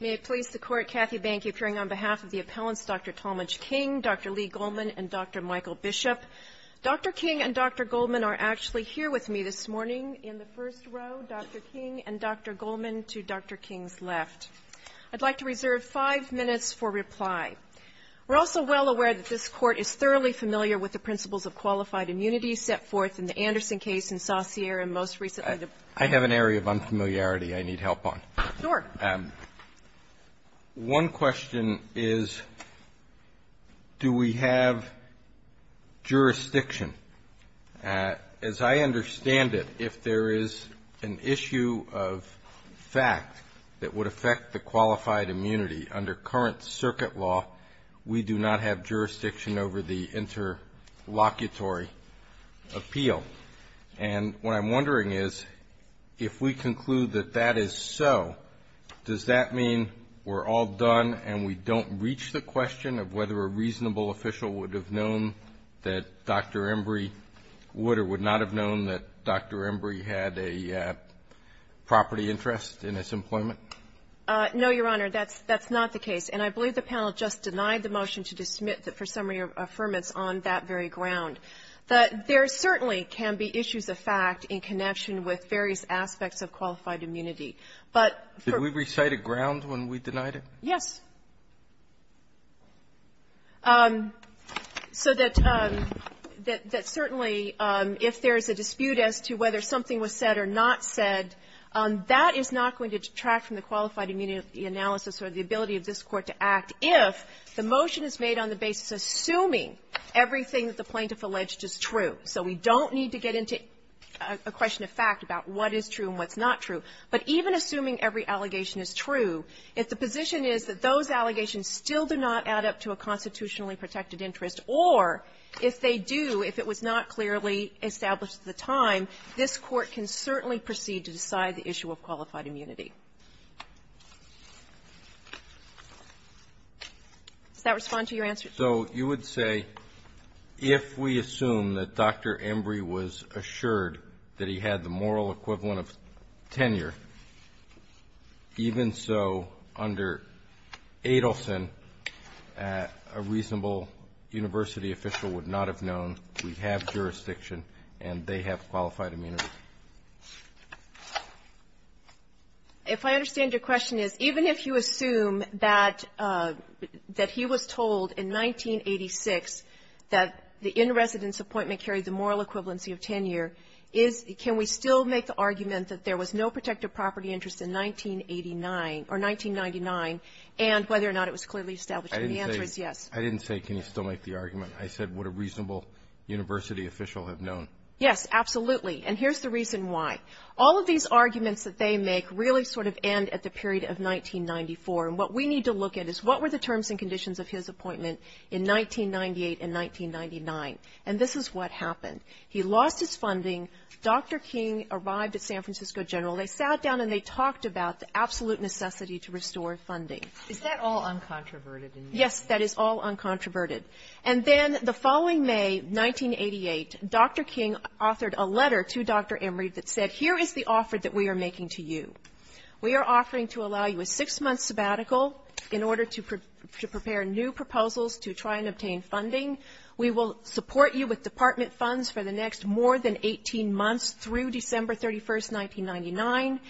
May it please the Court, Kathy Bank, you bring on behalf of the appellants Dr. Talmadge King, Dr. Lee Goldman, and Dr. Michael Bishop. Dr. King and Dr. Goldman are actually here with me this morning in the first row, Dr. King and Dr. Goldman to Dr. King's left. I'd like to reserve five minutes for reply. We're also well aware that this Court is thoroughly familiar with the principles of qualified immunity set forth in the Anderson case in Saussure and most recently the I have an area of unfamiliarity I need help on. One question is, do we have jurisdiction? As I understand it, if there is an issue of fact that would affect the qualified immunity under current circuit law, we do not have jurisdiction over the interlocutory appeal. And what I'm wondering is, if we conclude that that is so, does that mean we're all done and we don't reach the question of whether a reasonable official would have known that Dr. Embry would or would not have known that Dr. Embry had a property interest in his employment? No, Your Honor, that's not the case. And I believe the panel just denied the motion to dismiss it for summary of affirmance on that very ground. But there certainly can be issues of fact in connection with various aspects of qualified immunity. But for ---- Did we recite a ground when we denied it? Yes. So that certainly if there is a dispute as to whether something was said or not said, that is not going to detract from the qualified immunity analysis or the ability of this Court to act if the motion is made on the basis assuming everything that the plaintiff alleged is true. So we don't need to get into a question of fact about what is true and what's not true. But even assuming every allegation is true, if the position is that those allegations still do not add up to a constitutionally protected interest, or if they do, if it was not clearly established at the time, this Court can certainly proceed to decide the issue of qualified immunity. Does that respond to your answer? So you would say if we assume that Dr. Embry was assured that he had the moral equivalent of tenure, even so, under Adelson, a reasonable university official would not have jurisdiction and they have qualified immunity. If I understand your question is, even if you assume that he was told in 1986 that the in-residence appointment carried the moral equivalency of tenure, is ---- can we still make the argument that there was no protected property interest in 1989 or 1999 and whether or not it was clearly established? And the answer is yes. I didn't say can you still make the argument. I said would a reasonable university official have known? Yes, absolutely. And here's the reason why. All of these arguments that they make really sort of end at the period of 1994. And what we need to look at is what were the terms and conditions of his appointment in 1998 and 1999. And this is what happened. He lost his funding. Dr. King arrived at San Francisco General. They sat down and they talked about the absolute necessity to restore funding. Is that all uncontroverted? Yes, that is all uncontroverted. And then the following May, 1988, Dr. King authored a letter to Dr. Emory that said here is the offer that we are making to you. We are offering to allow you a six-month sabbatical in order to prepare new proposals to try and obtain funding. We will support you with department funds for the next more than 18 months through December 31st, 1999,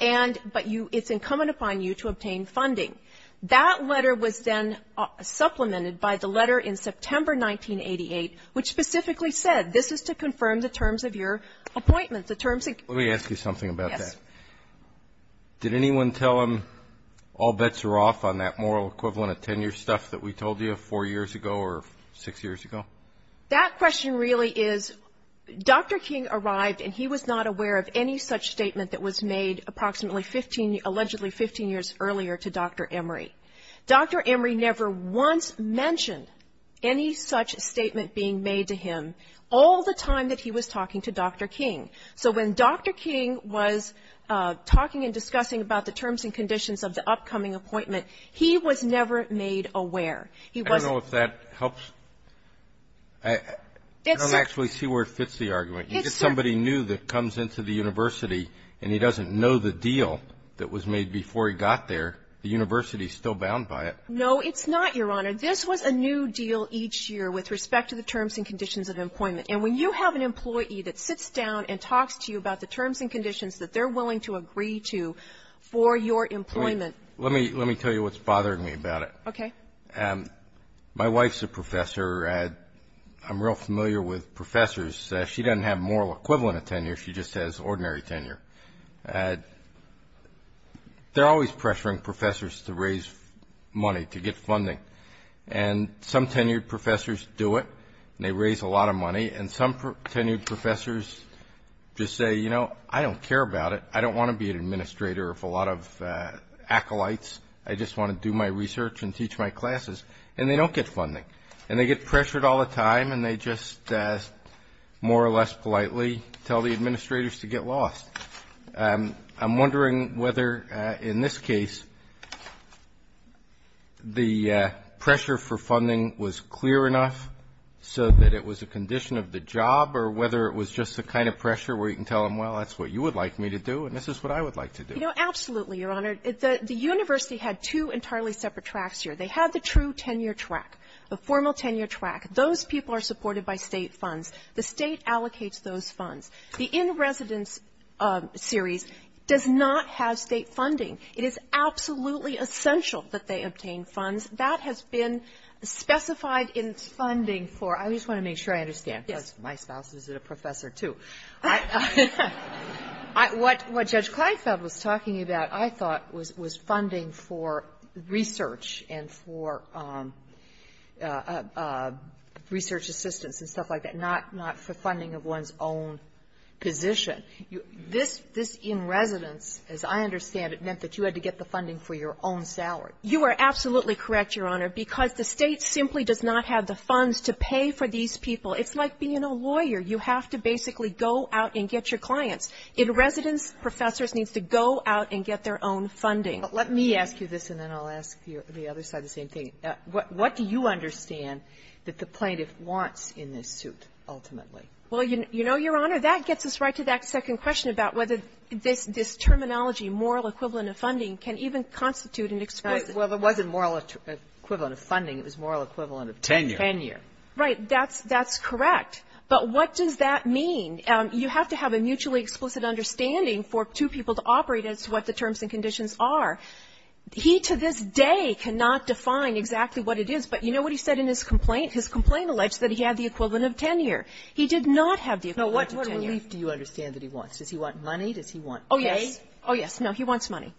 and ---- but you ---- it's incumbent upon you to obtain funding. That letter was then supplemented by the letter in September 1988 which specifically said this is to confirm the terms of your appointment, the terms of ---- Let me ask you something about that. Yes. Did anyone tell him all bets are off on that moral equivalent of tenure stuff that we told you four years ago or six years ago? That question really is Dr. King arrived and he was not aware of any such statement that was made approximately 15, allegedly 15 years earlier to Dr. Emory. Dr. Emory never once mentioned any such statement being made to him all the time that he was talking to Dr. King. So when Dr. King was talking and discussing about the terms and conditions of the upcoming appointment, he was never made aware. He was ---- I don't know if that helps. I don't actually see where it fits the argument. If somebody new that comes into the university and he doesn't know the deal that was made before he got there, the university is still bound by it. No, it's not, Your Honor. This was a new deal each year with respect to the terms and conditions of employment. And when you have an employee that sits down and talks to you about the terms and conditions that they're willing to agree to for your employment ---- Let me tell you what's bothering me about it. Okay. My wife's a professor. I'm real familiar with professors. She doesn't have a moral equivalent of tenure. She just has ordinary tenure. They're always pressuring professors to raise money to get funding. And some tenured professors do it, and they raise a lot of money. And some tenured professors just say, you know, I don't care about it. I don't want to be an administrator of a lot of acolytes. I just want to do my research and teach my classes. And they don't get funding. And they get pressured all the time, and they just more or less politely tell the administrators to get lost. I'm wondering whether, in this case, the pressure for funding was clear enough so that it was a condition of the job, or whether it was just the kind of pressure where you can tell them, well, that's what you would like me to do and this is what I would like to do. You know, absolutely, Your Honor. The university had two entirely separate tracks here. They had the true tenure track, the formal tenure track. Those people are supported by State funds. The State allocates those funds. The in-residence series does not have State funding. It is absolutely essential that they obtain funds. That has been specified in funding for — I just want to make sure I understand, because my spouse is a professor, too. What Judge Kleinfeld was talking about, I thought, was funding for research and for research assistants and stuff like that, not for funding of one's own position. This in-residence, as I understand it, meant that you had to get the funding for your own salary. You are absolutely correct, Your Honor, because the State simply does not have the funds to pay for these people. It's like being a lawyer. You have to basically go out and get your clients. In-residence professors need to go out and get their own funding. But let me ask you this, and then I'll ask the other side the same thing. What do you understand that the plaintiff wants in this suit, ultimately? Well, you know, Your Honor, that gets us right to that second question about whether this terminology, moral equivalent of funding, can even constitute an explicit term. Well, it wasn't moral equivalent of funding. It was moral equivalent of tenure. Tenure. That's correct. But what does that mean? You have to have a mutually explicit understanding for two people to operate as to what the terms and conditions are. He, to this day, cannot define exactly what it is. But you know what he said in his complaint? His complaint alleged that he had the equivalent of tenure. He did not have the equivalent of tenure. Now, what relief do you understand that he wants? Does he want money? Does he want pay? Oh, yes. Oh, yes. No, he wants money.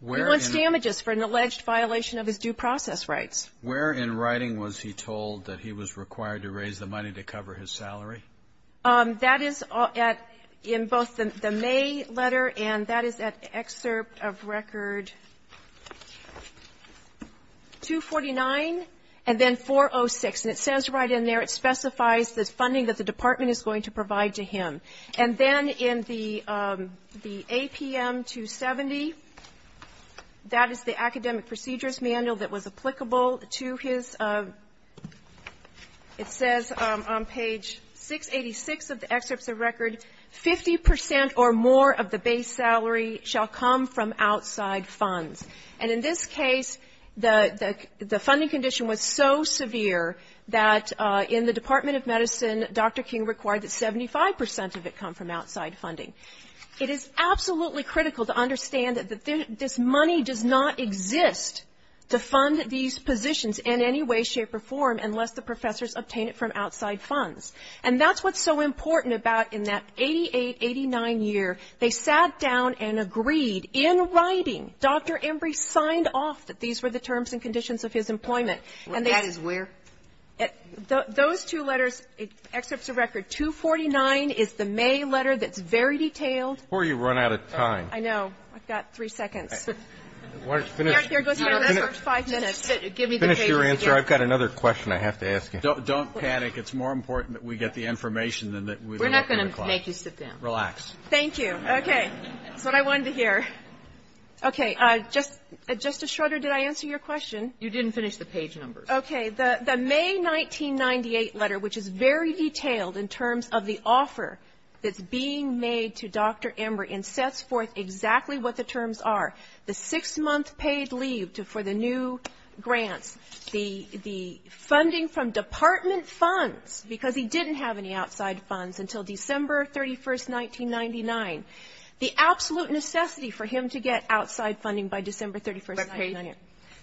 He wants damages for an alleged violation of his due process rights. Where in writing was he told that he was required to raise the money to cover his salary? That is in both the May letter and that is at excerpt of Record 249 and then 406. And it says right in there, it specifies the funding that the department is going to provide to him. And then in the APM 270, that is the academic procedures manual that was applicable to his, it says on page 686 of the excerpts of record, 50 percent or more of the base salary shall come from outside funds. And in this case, the funding condition was so severe that in the Department of Medicine, Dr. King required that 75 percent of it come from outside funding. It is absolutely critical to understand that this money does not exist to fund these positions in any way, shape, or form unless the professors obtain it from outside funds. And that's what's so important about in that 88, 89 year. They sat down and agreed in writing, Dr. Embry signed off that these were the terms and conditions of his employment. That is where? Those two letters, excerpts of Record 249 is the May letter that's very detailed. Before you run out of time. I know. I've got three seconds. Why don't you finish? Here, go sit down for five minutes. Finish your answer. I've got another question I have to ask you. Don't panic. It's more important that we get the information than that we look at the clock. We're not going to make you sit down. Relax. Thank you. Okay. That's what I wanted to hear. Okay. Justice Schroeder, did I answer your question? You didn't finish the page numbers. Okay. The May 1998 letter, which is very detailed in terms of the offer that's being made to Dr. Embry and sets forth exactly what the terms are, the six-month paid leave for the new grants, the funding from department funds, because he didn't have any outside funds until December 31st, 1999, the absolute necessity for him to get outside funding by December 31st, 1999.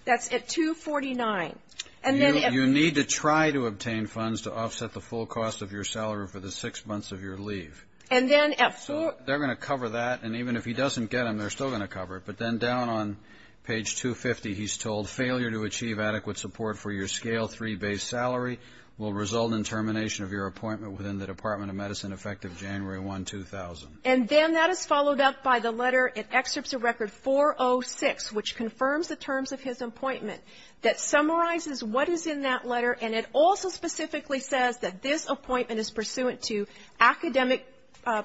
That's at 249. You need to try to obtain funds to offset the full cost of your salary for the six months of your leave. And then at four They're going to cover that. And even if he doesn't get them, they're still going to cover it. But then down on page 250, he's told, failure to achieve adequate support for your scale three base salary will result in termination of your appointment within the Department of Medicine effective January 1, 2000. And then that is followed up by the letter. It excerpts a record 406, which confirms the terms of his appointment, that summarizes what is in that letter. And it also specifically says that this appointment is pursuant to academic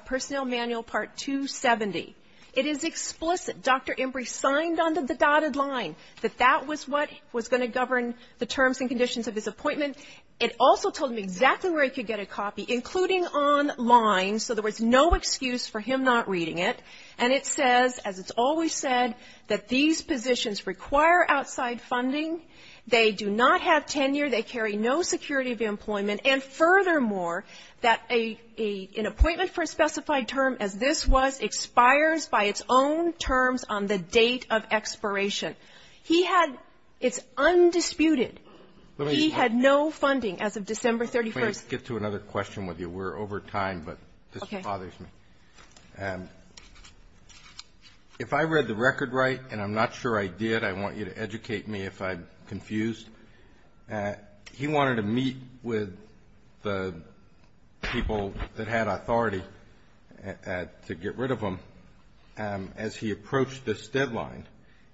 personnel manual part 270. It is explicit. Dr. Embree signed on to the dotted line that that was what was going to govern the terms and conditions of his appointment. It also told him exactly where he could get a copy, including online, so there was no excuse for him not reading it. And it says, as it's always said, that these positions require outside funding. They do not have tenure. They carry no security of employment. And furthermore, that an appointment for a specified term as this was expires by its own terms on the date of expiration. He had, it's undisputed, he had no funding as of December 31st. Let me get to another question with you. We're over time, but this bothers me. Okay. If I read the record right, and I'm not sure I did, I want you to educate me if I'm right, he wanted to meet with the people that had authority to get rid of him as he approached this deadline,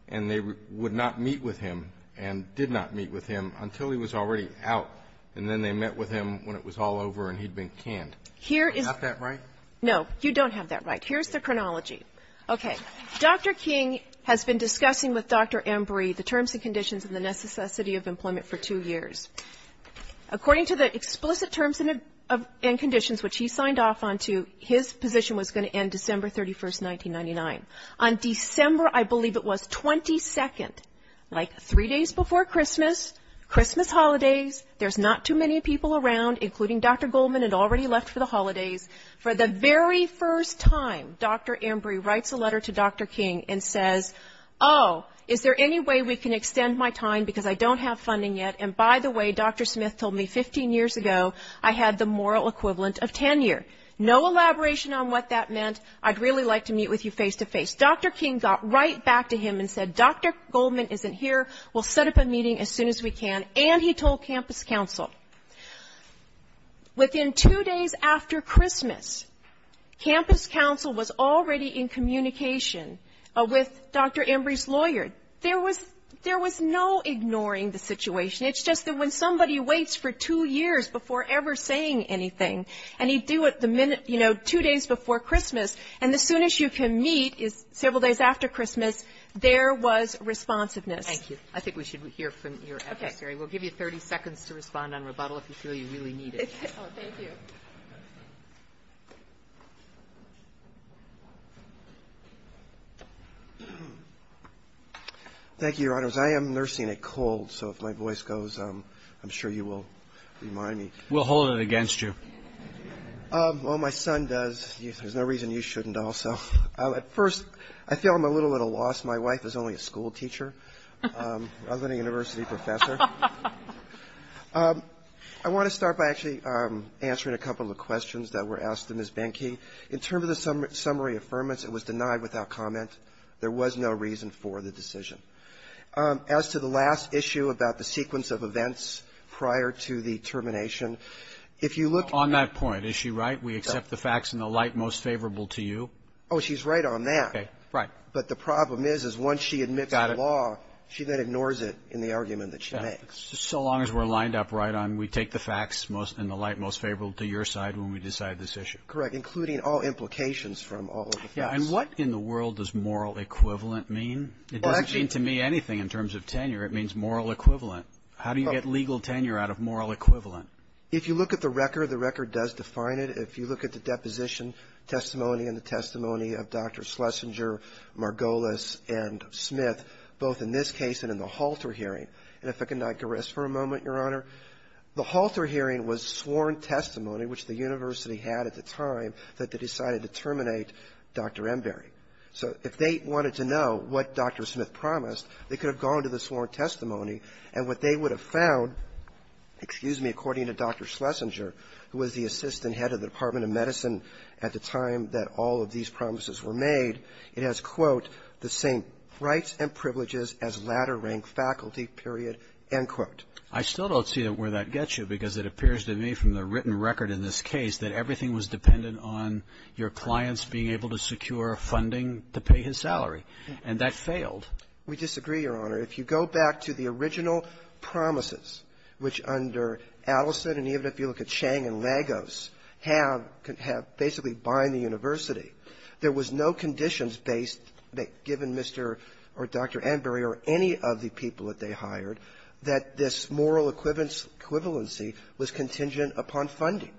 and they would not meet with him and did not meet with him until he was already out, and then they met with him when it was all over and he'd been canned. Is that right? No. You don't have that right. Here's the chronology. Okay. Dr. King has been discussing with Dr. Embree the terms and conditions and the necessity of employment for two years. According to the explicit terms and conditions, which he signed off onto, his position was going to end December 31st, 1999. On December, I believe it was, 22nd, like three days before Christmas, Christmas holidays, there's not too many people around, including Dr. Goldman had already left for the holidays. For the very first time, Dr. Embree writes a letter to Dr. King and says, oh, is there any way we can extend my time because I don't have funding yet? And by the way, Dr. Smith told me 15 years ago I had the moral equivalent of tenure. No elaboration on what that meant. I'd really like to meet with you face-to-face. Dr. King got right back to him and said, Dr. Goldman isn't here. We'll set up a meeting as soon as we can. And he told campus council. Within two days after Christmas, campus council was already in communication with Dr. Embree's lawyer. There was no ignoring the situation. It's just that when somebody waits for two years before ever saying anything, and he'd do it the minute, you know, two days before Christmas, and as soon as you can meet several days after Christmas, there was responsiveness. Kagan. Thank you. I think we should hear from your adversary. We'll give you 30 seconds to respond on rebuttal if you feel you really need it. Thank you. Thank you, Your Honors. I am nursing a cold, so if my voice goes, I'm sure you will remind me. We'll hold it against you. Well, my son does. There's no reason you shouldn't also. At first, I feel I'm a little at a loss. My wife is only a schoolteacher. I was going to university professor. I want to start by actually answering a couple of questions that were asked to Ms. Behnke. In terms of the summary affirmance, it was denied without comment. There was no reason for the decision. As to the last issue about the sequence of events prior to the termination, if you look at that. On that point, is she right? We accept the facts in the light most favorable to you. Oh, she's right on that. Okay. Right. But the problem is, is once she admits to the law, she then ignores it in the argument that she makes. So long as we're lined up right, we take the facts in the light most favorable to your side when we decide this issue. Correct, including all implications from all of the facts. And what in the world does moral equivalent mean? It doesn't mean to me anything in terms of tenure. It means moral equivalent. How do you get legal tenure out of moral equivalent? If you look at the record, the record does define it. If you look at the deposition testimony and the testimony of Dr. Schlesinger, Margolis, and Smith, both in this case and in the Halter hearing, and if I could not garris for a moment, Your Honor, the Halter hearing was sworn testimony, which the university had at the time that they decided to terminate Dr. Embery. So if they wanted to know what Dr. Smith promised, they could have gone to the sworn testimony, and what they would have found, excuse me, according to Dr. Schlesinger, who was the assistant head of the Department of Medicine at the time that all of these the same rights and privileges as ladder rank faculty, period, end quote. I still don't see where that gets you, because it appears to me from the written record in this case that everything was dependent on your clients being able to secure funding to pay his salary, and that failed. We disagree, Your Honor. If you go back to the original promises, which under Adelson and even if you look at Chang and Lagos have basically bind the university, there was no conditions based that given Mr. or Dr. Embery or any of the people that they hired that this moral equivalency was contingent upon funding.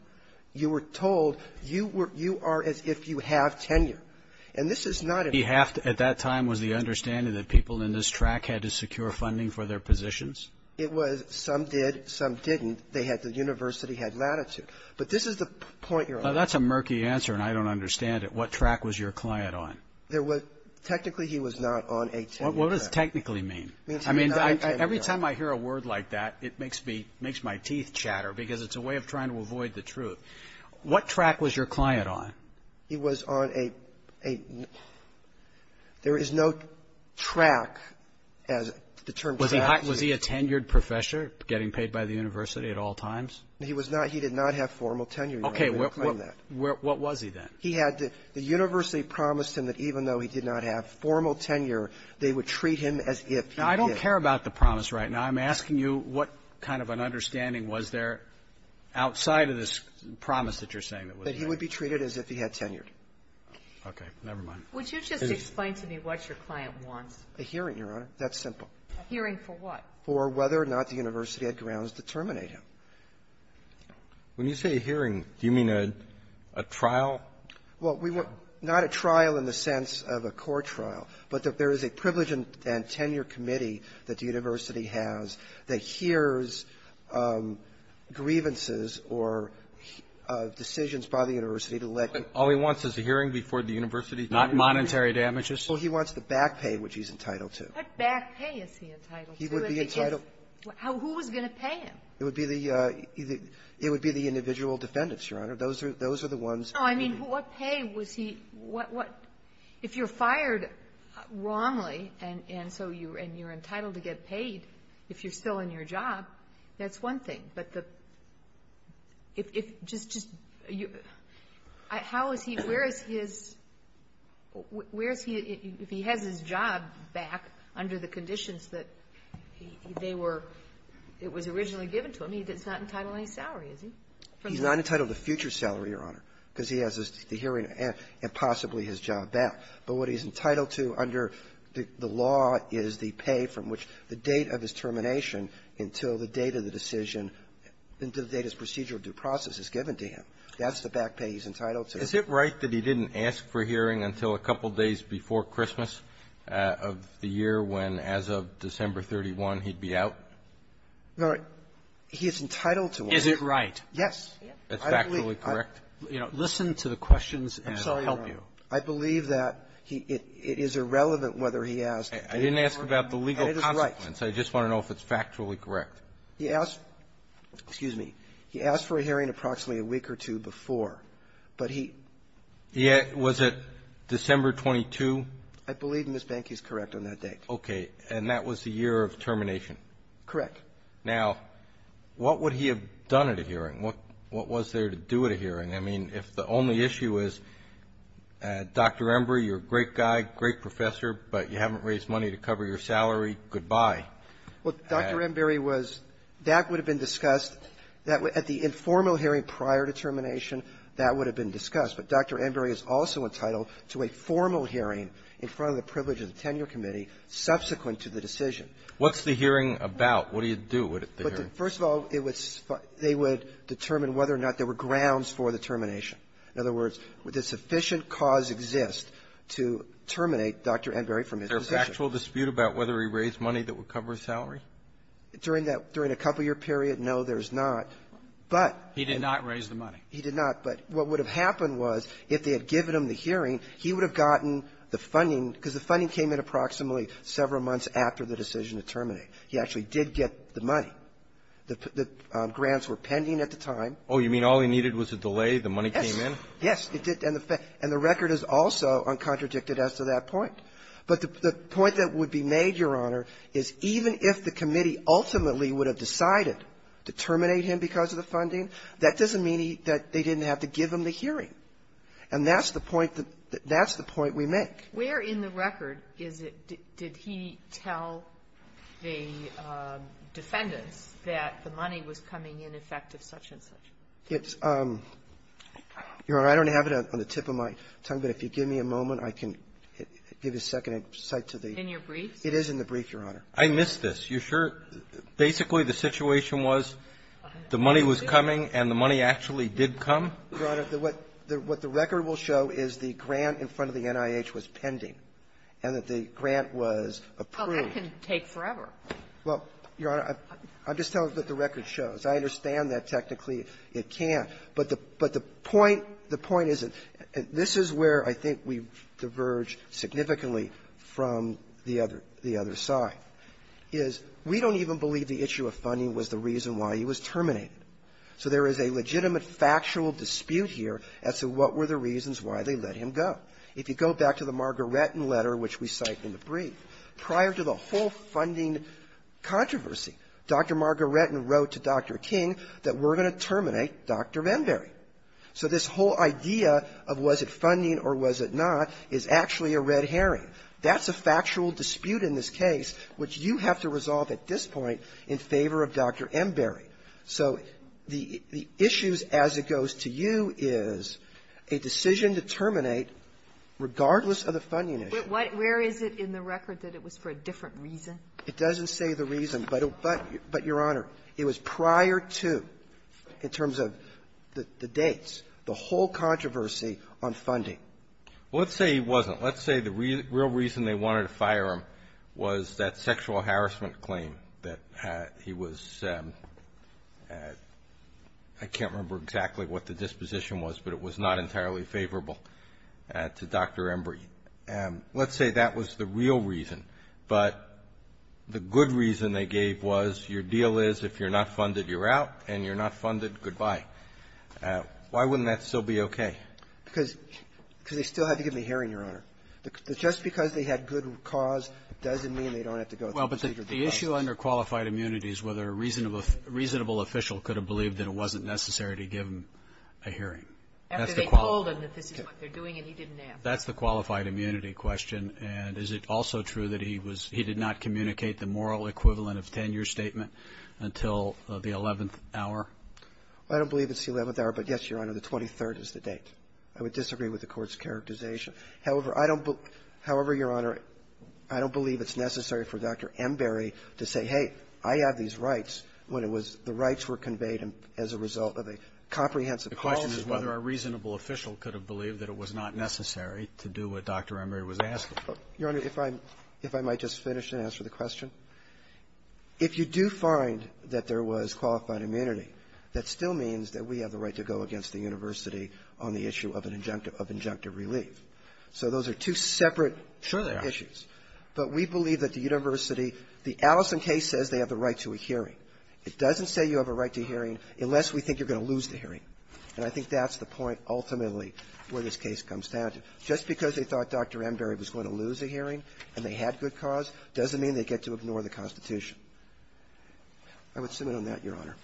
You were told you were you are as if you have tenure. And this is not a ---- We have at that time was the understanding that people in this track had to secure funding for their positions? It was. Some did. Some didn't. They had the university had latitude. But this is the point, Your Honor. Now, that's a murky answer, and I don't understand it. What track was your client on? There was technically he was not on a tenure track. What does technically mean? I mean, every time I hear a word like that, it makes me ---- makes my teeth chatter because it's a way of trying to avoid the truth. What track was your client on? He was on a ---- there is no track as the term track means. Was he a tenured professor getting paid by the university at all times? He was not. He did not have formal tenure. Okay. What was he then? He had the university promise him that even though he did not have formal tenure, they would treat him as if he did. Now, I don't care about the promise right now. I'm asking you what kind of an understanding was there outside of this promise that you're saying that was there. That he would be treated as if he had tenured. Okay. Never mind. Would you just explain to me what your client wants? A hearing, Your Honor. That's simple. A hearing for what? For whether or not the university had grounds to terminate him. When you say a hearing, do you mean a trial? Well, we want not a trial in the sense of a court trial, but that there is a privilege and tenure committee that the university has that hears grievances or decisions by the university to let him ---- All he wants is a hearing before the university terminates him? Not monetary damages? Well, he wants the back pay, which he's entitled to. What back pay is he entitled to? He would be entitled to ---- Who was going to pay him? It would be the individual defendants, Your Honor. Those are the ones ---- No. I mean, what pay was he ---- if you're fired wrongly and so you're entitled to get paid if you're still in your job, that's one thing. But the ---- if just ---- how is he ---- where is his ---- where is he, if he has his salary, is he? He's not entitled to future salary, Your Honor, because he has the hearing and possibly his job back. But what he's entitled to under the law is the pay from which the date of his termination until the date of the decision, until the date of his procedural due process is given to him. That's the back pay he's entitled to. Is it right that he didn't ask for hearing until a couple days before Christmas of the year when, as of December 31, he'd be out? No. He is entitled to one. Is it right? Yes. It's factually correct? I believe ---- Listen to the questions and I'll help you. I'm sorry, Your Honor. I believe that he ---- it is irrelevant whether he asked for hearing or not. I didn't ask about the legal consequence. It is right. I just want to know if it's factually correct. He asked ---- excuse me. He asked for a hearing approximately a week or two before, but he ---- Yeah. Was it December 22? I believe, Ms. Banke, he's correct on that date. Okay. And that was the year of termination? Correct. Now, what would he have done at a hearing? What was there to do at a hearing? I mean, if the only issue is, Dr. Embry, you're a great guy, great professor, but you haven't raised money to cover your salary, goodbye. Well, Dr. Embry was ---- that would have been discussed at the informal hearing prior to termination. That would have been discussed. But Dr. Embry is also entitled to a formal hearing in front of the privilege of the tenure committee subsequent to the decision. What's the hearing about? What do you do at the hearing? First of all, it was ---- they would determine whether or not there were grounds for the termination. In other words, would the sufficient cause exist to terminate Dr. Embry from his position? Is there a factual dispute about whether he raised money that would cover his salary? During that ---- during a couple-year period, no, there's not. But ---- He did not raise the money. He did not. But what would have happened was, if they had given him the hearing, he would have gotten the funding, because the funding came in approximately several months after the decision to terminate. He actually did get the money. The grants were pending at the time. Oh, you mean all he needed was a delay, the money came in? Yes. Yes. And the record is also uncontradicted as to that point. But the point that would be made, Your Honor, is even if the committee ultimately would have decided to terminate him because of the funding, that doesn't mean that they didn't have to give him the hearing. And that's the point that we make. Where in the record is it, did he tell the defendants that the money was coming in effective such-and-such? It's ---- Your Honor, I don't have it on the tip of my tongue, but if you give me a moment, I can give you a second to cite to the ---- In your briefs? It is in the brief, Your Honor. I missed this. You sure? Basically, the situation was the money was coming, and the money actually did come? Your Honor, what the record will show is the grant in front of the NIH was pending and that the grant was approved. Well, that can take forever. Well, Your Honor, I'm just telling you what the record shows. I understand that technically it can't. But the point is that this is where I think we diverge significantly from the other side, is we don't even believe the issue of funding was the reason why he was terminated. So there is a legitimate factual dispute here as to what were the reasons why they let him go. If you go back to the Margaretten letter, which we cite in the brief, prior to the whole funding controversy, Dr. Margaretten wrote to Dr. King that we're going to terminate Dr. Enberry. So this whole idea of was it funding or was it not is actually a red herring. That's a factual dispute in this case which you have to resolve at this point in favor of Dr. Enberry. So the issues as it goes to you is a decision to terminate, regardless of the funding issue. Where is it in the record that it was for a different reason? It doesn't say the reason. But, Your Honor, it was prior to, in terms of the dates, the whole controversy on funding. Well, let's say he wasn't. Let's say the real reason they wanted to fire him was that sexual harassment claim that he was at — I can't remember exactly what the disposition was, but it was not entirely favorable to Dr. Enberry. Let's say that was the real reason. But the good reason they gave was your deal is if you're not funded, you're out. And you're not funded, goodbye. Why wouldn't that still be okay? Because they still had to give him a hearing, Your Honor. Just because they had good cause doesn't mean they don't have to go through the procedure to be fined. Well, but the issue under qualified immunity is whether a reasonable — a reasonable official could have believed that it wasn't necessary to give him a hearing. After they told him that this is what they're doing and he didn't answer. That's the qualified immunity question. And is it also true that he was — he did not communicate the moral equivalent of 10-year statement until the 11th hour? I don't believe it's the 11th hour. But, yes, Your Honor, the 23rd is the date. I would disagree with the Court's characterization. However, I don't — however, Your Honor, I don't believe it's necessary for Dr. Enberry to say, hey, I have these rights when it was — the rights were conveyed as a result of a comprehensive policy. The question is whether a reasonable official could have believed that it was not necessary to do what Dr. Enberry was asking. Your Honor, if I — if I might just finish and answer the question. If you do find that there was qualified immunity, that still means that we have the right to go against the university on the issue of an injunctive — of injunctive So those are two separate issues. Sure, they are. But we believe that the university — the Allison case says they have the right to a hearing. the hearing. And I think that's the point, ultimately, where this case comes down to. Just because they thought Dr. Enberry was going to lose a hearing and they had good cause doesn't mean they get to ignore the Constitution. I would submit on that, Your Honor.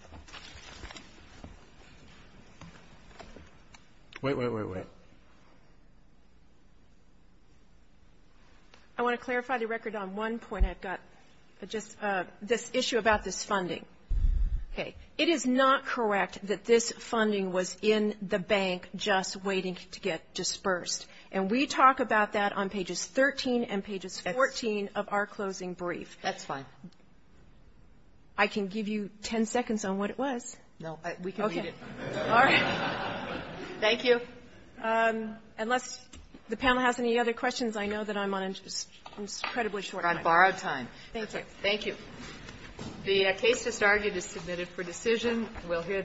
Wait, wait, wait, wait. I want to clarify the record on one point I've got, just this issue about this funding. Okay. It is not correct that this funding was in the bank just waiting to get dispersed. And we talk about that on pages 13 and pages 14 of our closing brief. That's fine. I can give you 10 seconds on what it was. No, we can read it. All right. Thank you. Unless the panel has any other questions, I know that I'm on an incredibly short time. You're on borrowed time. Thank you. Thank you. The case just argued is submitted for decision. We'll hear.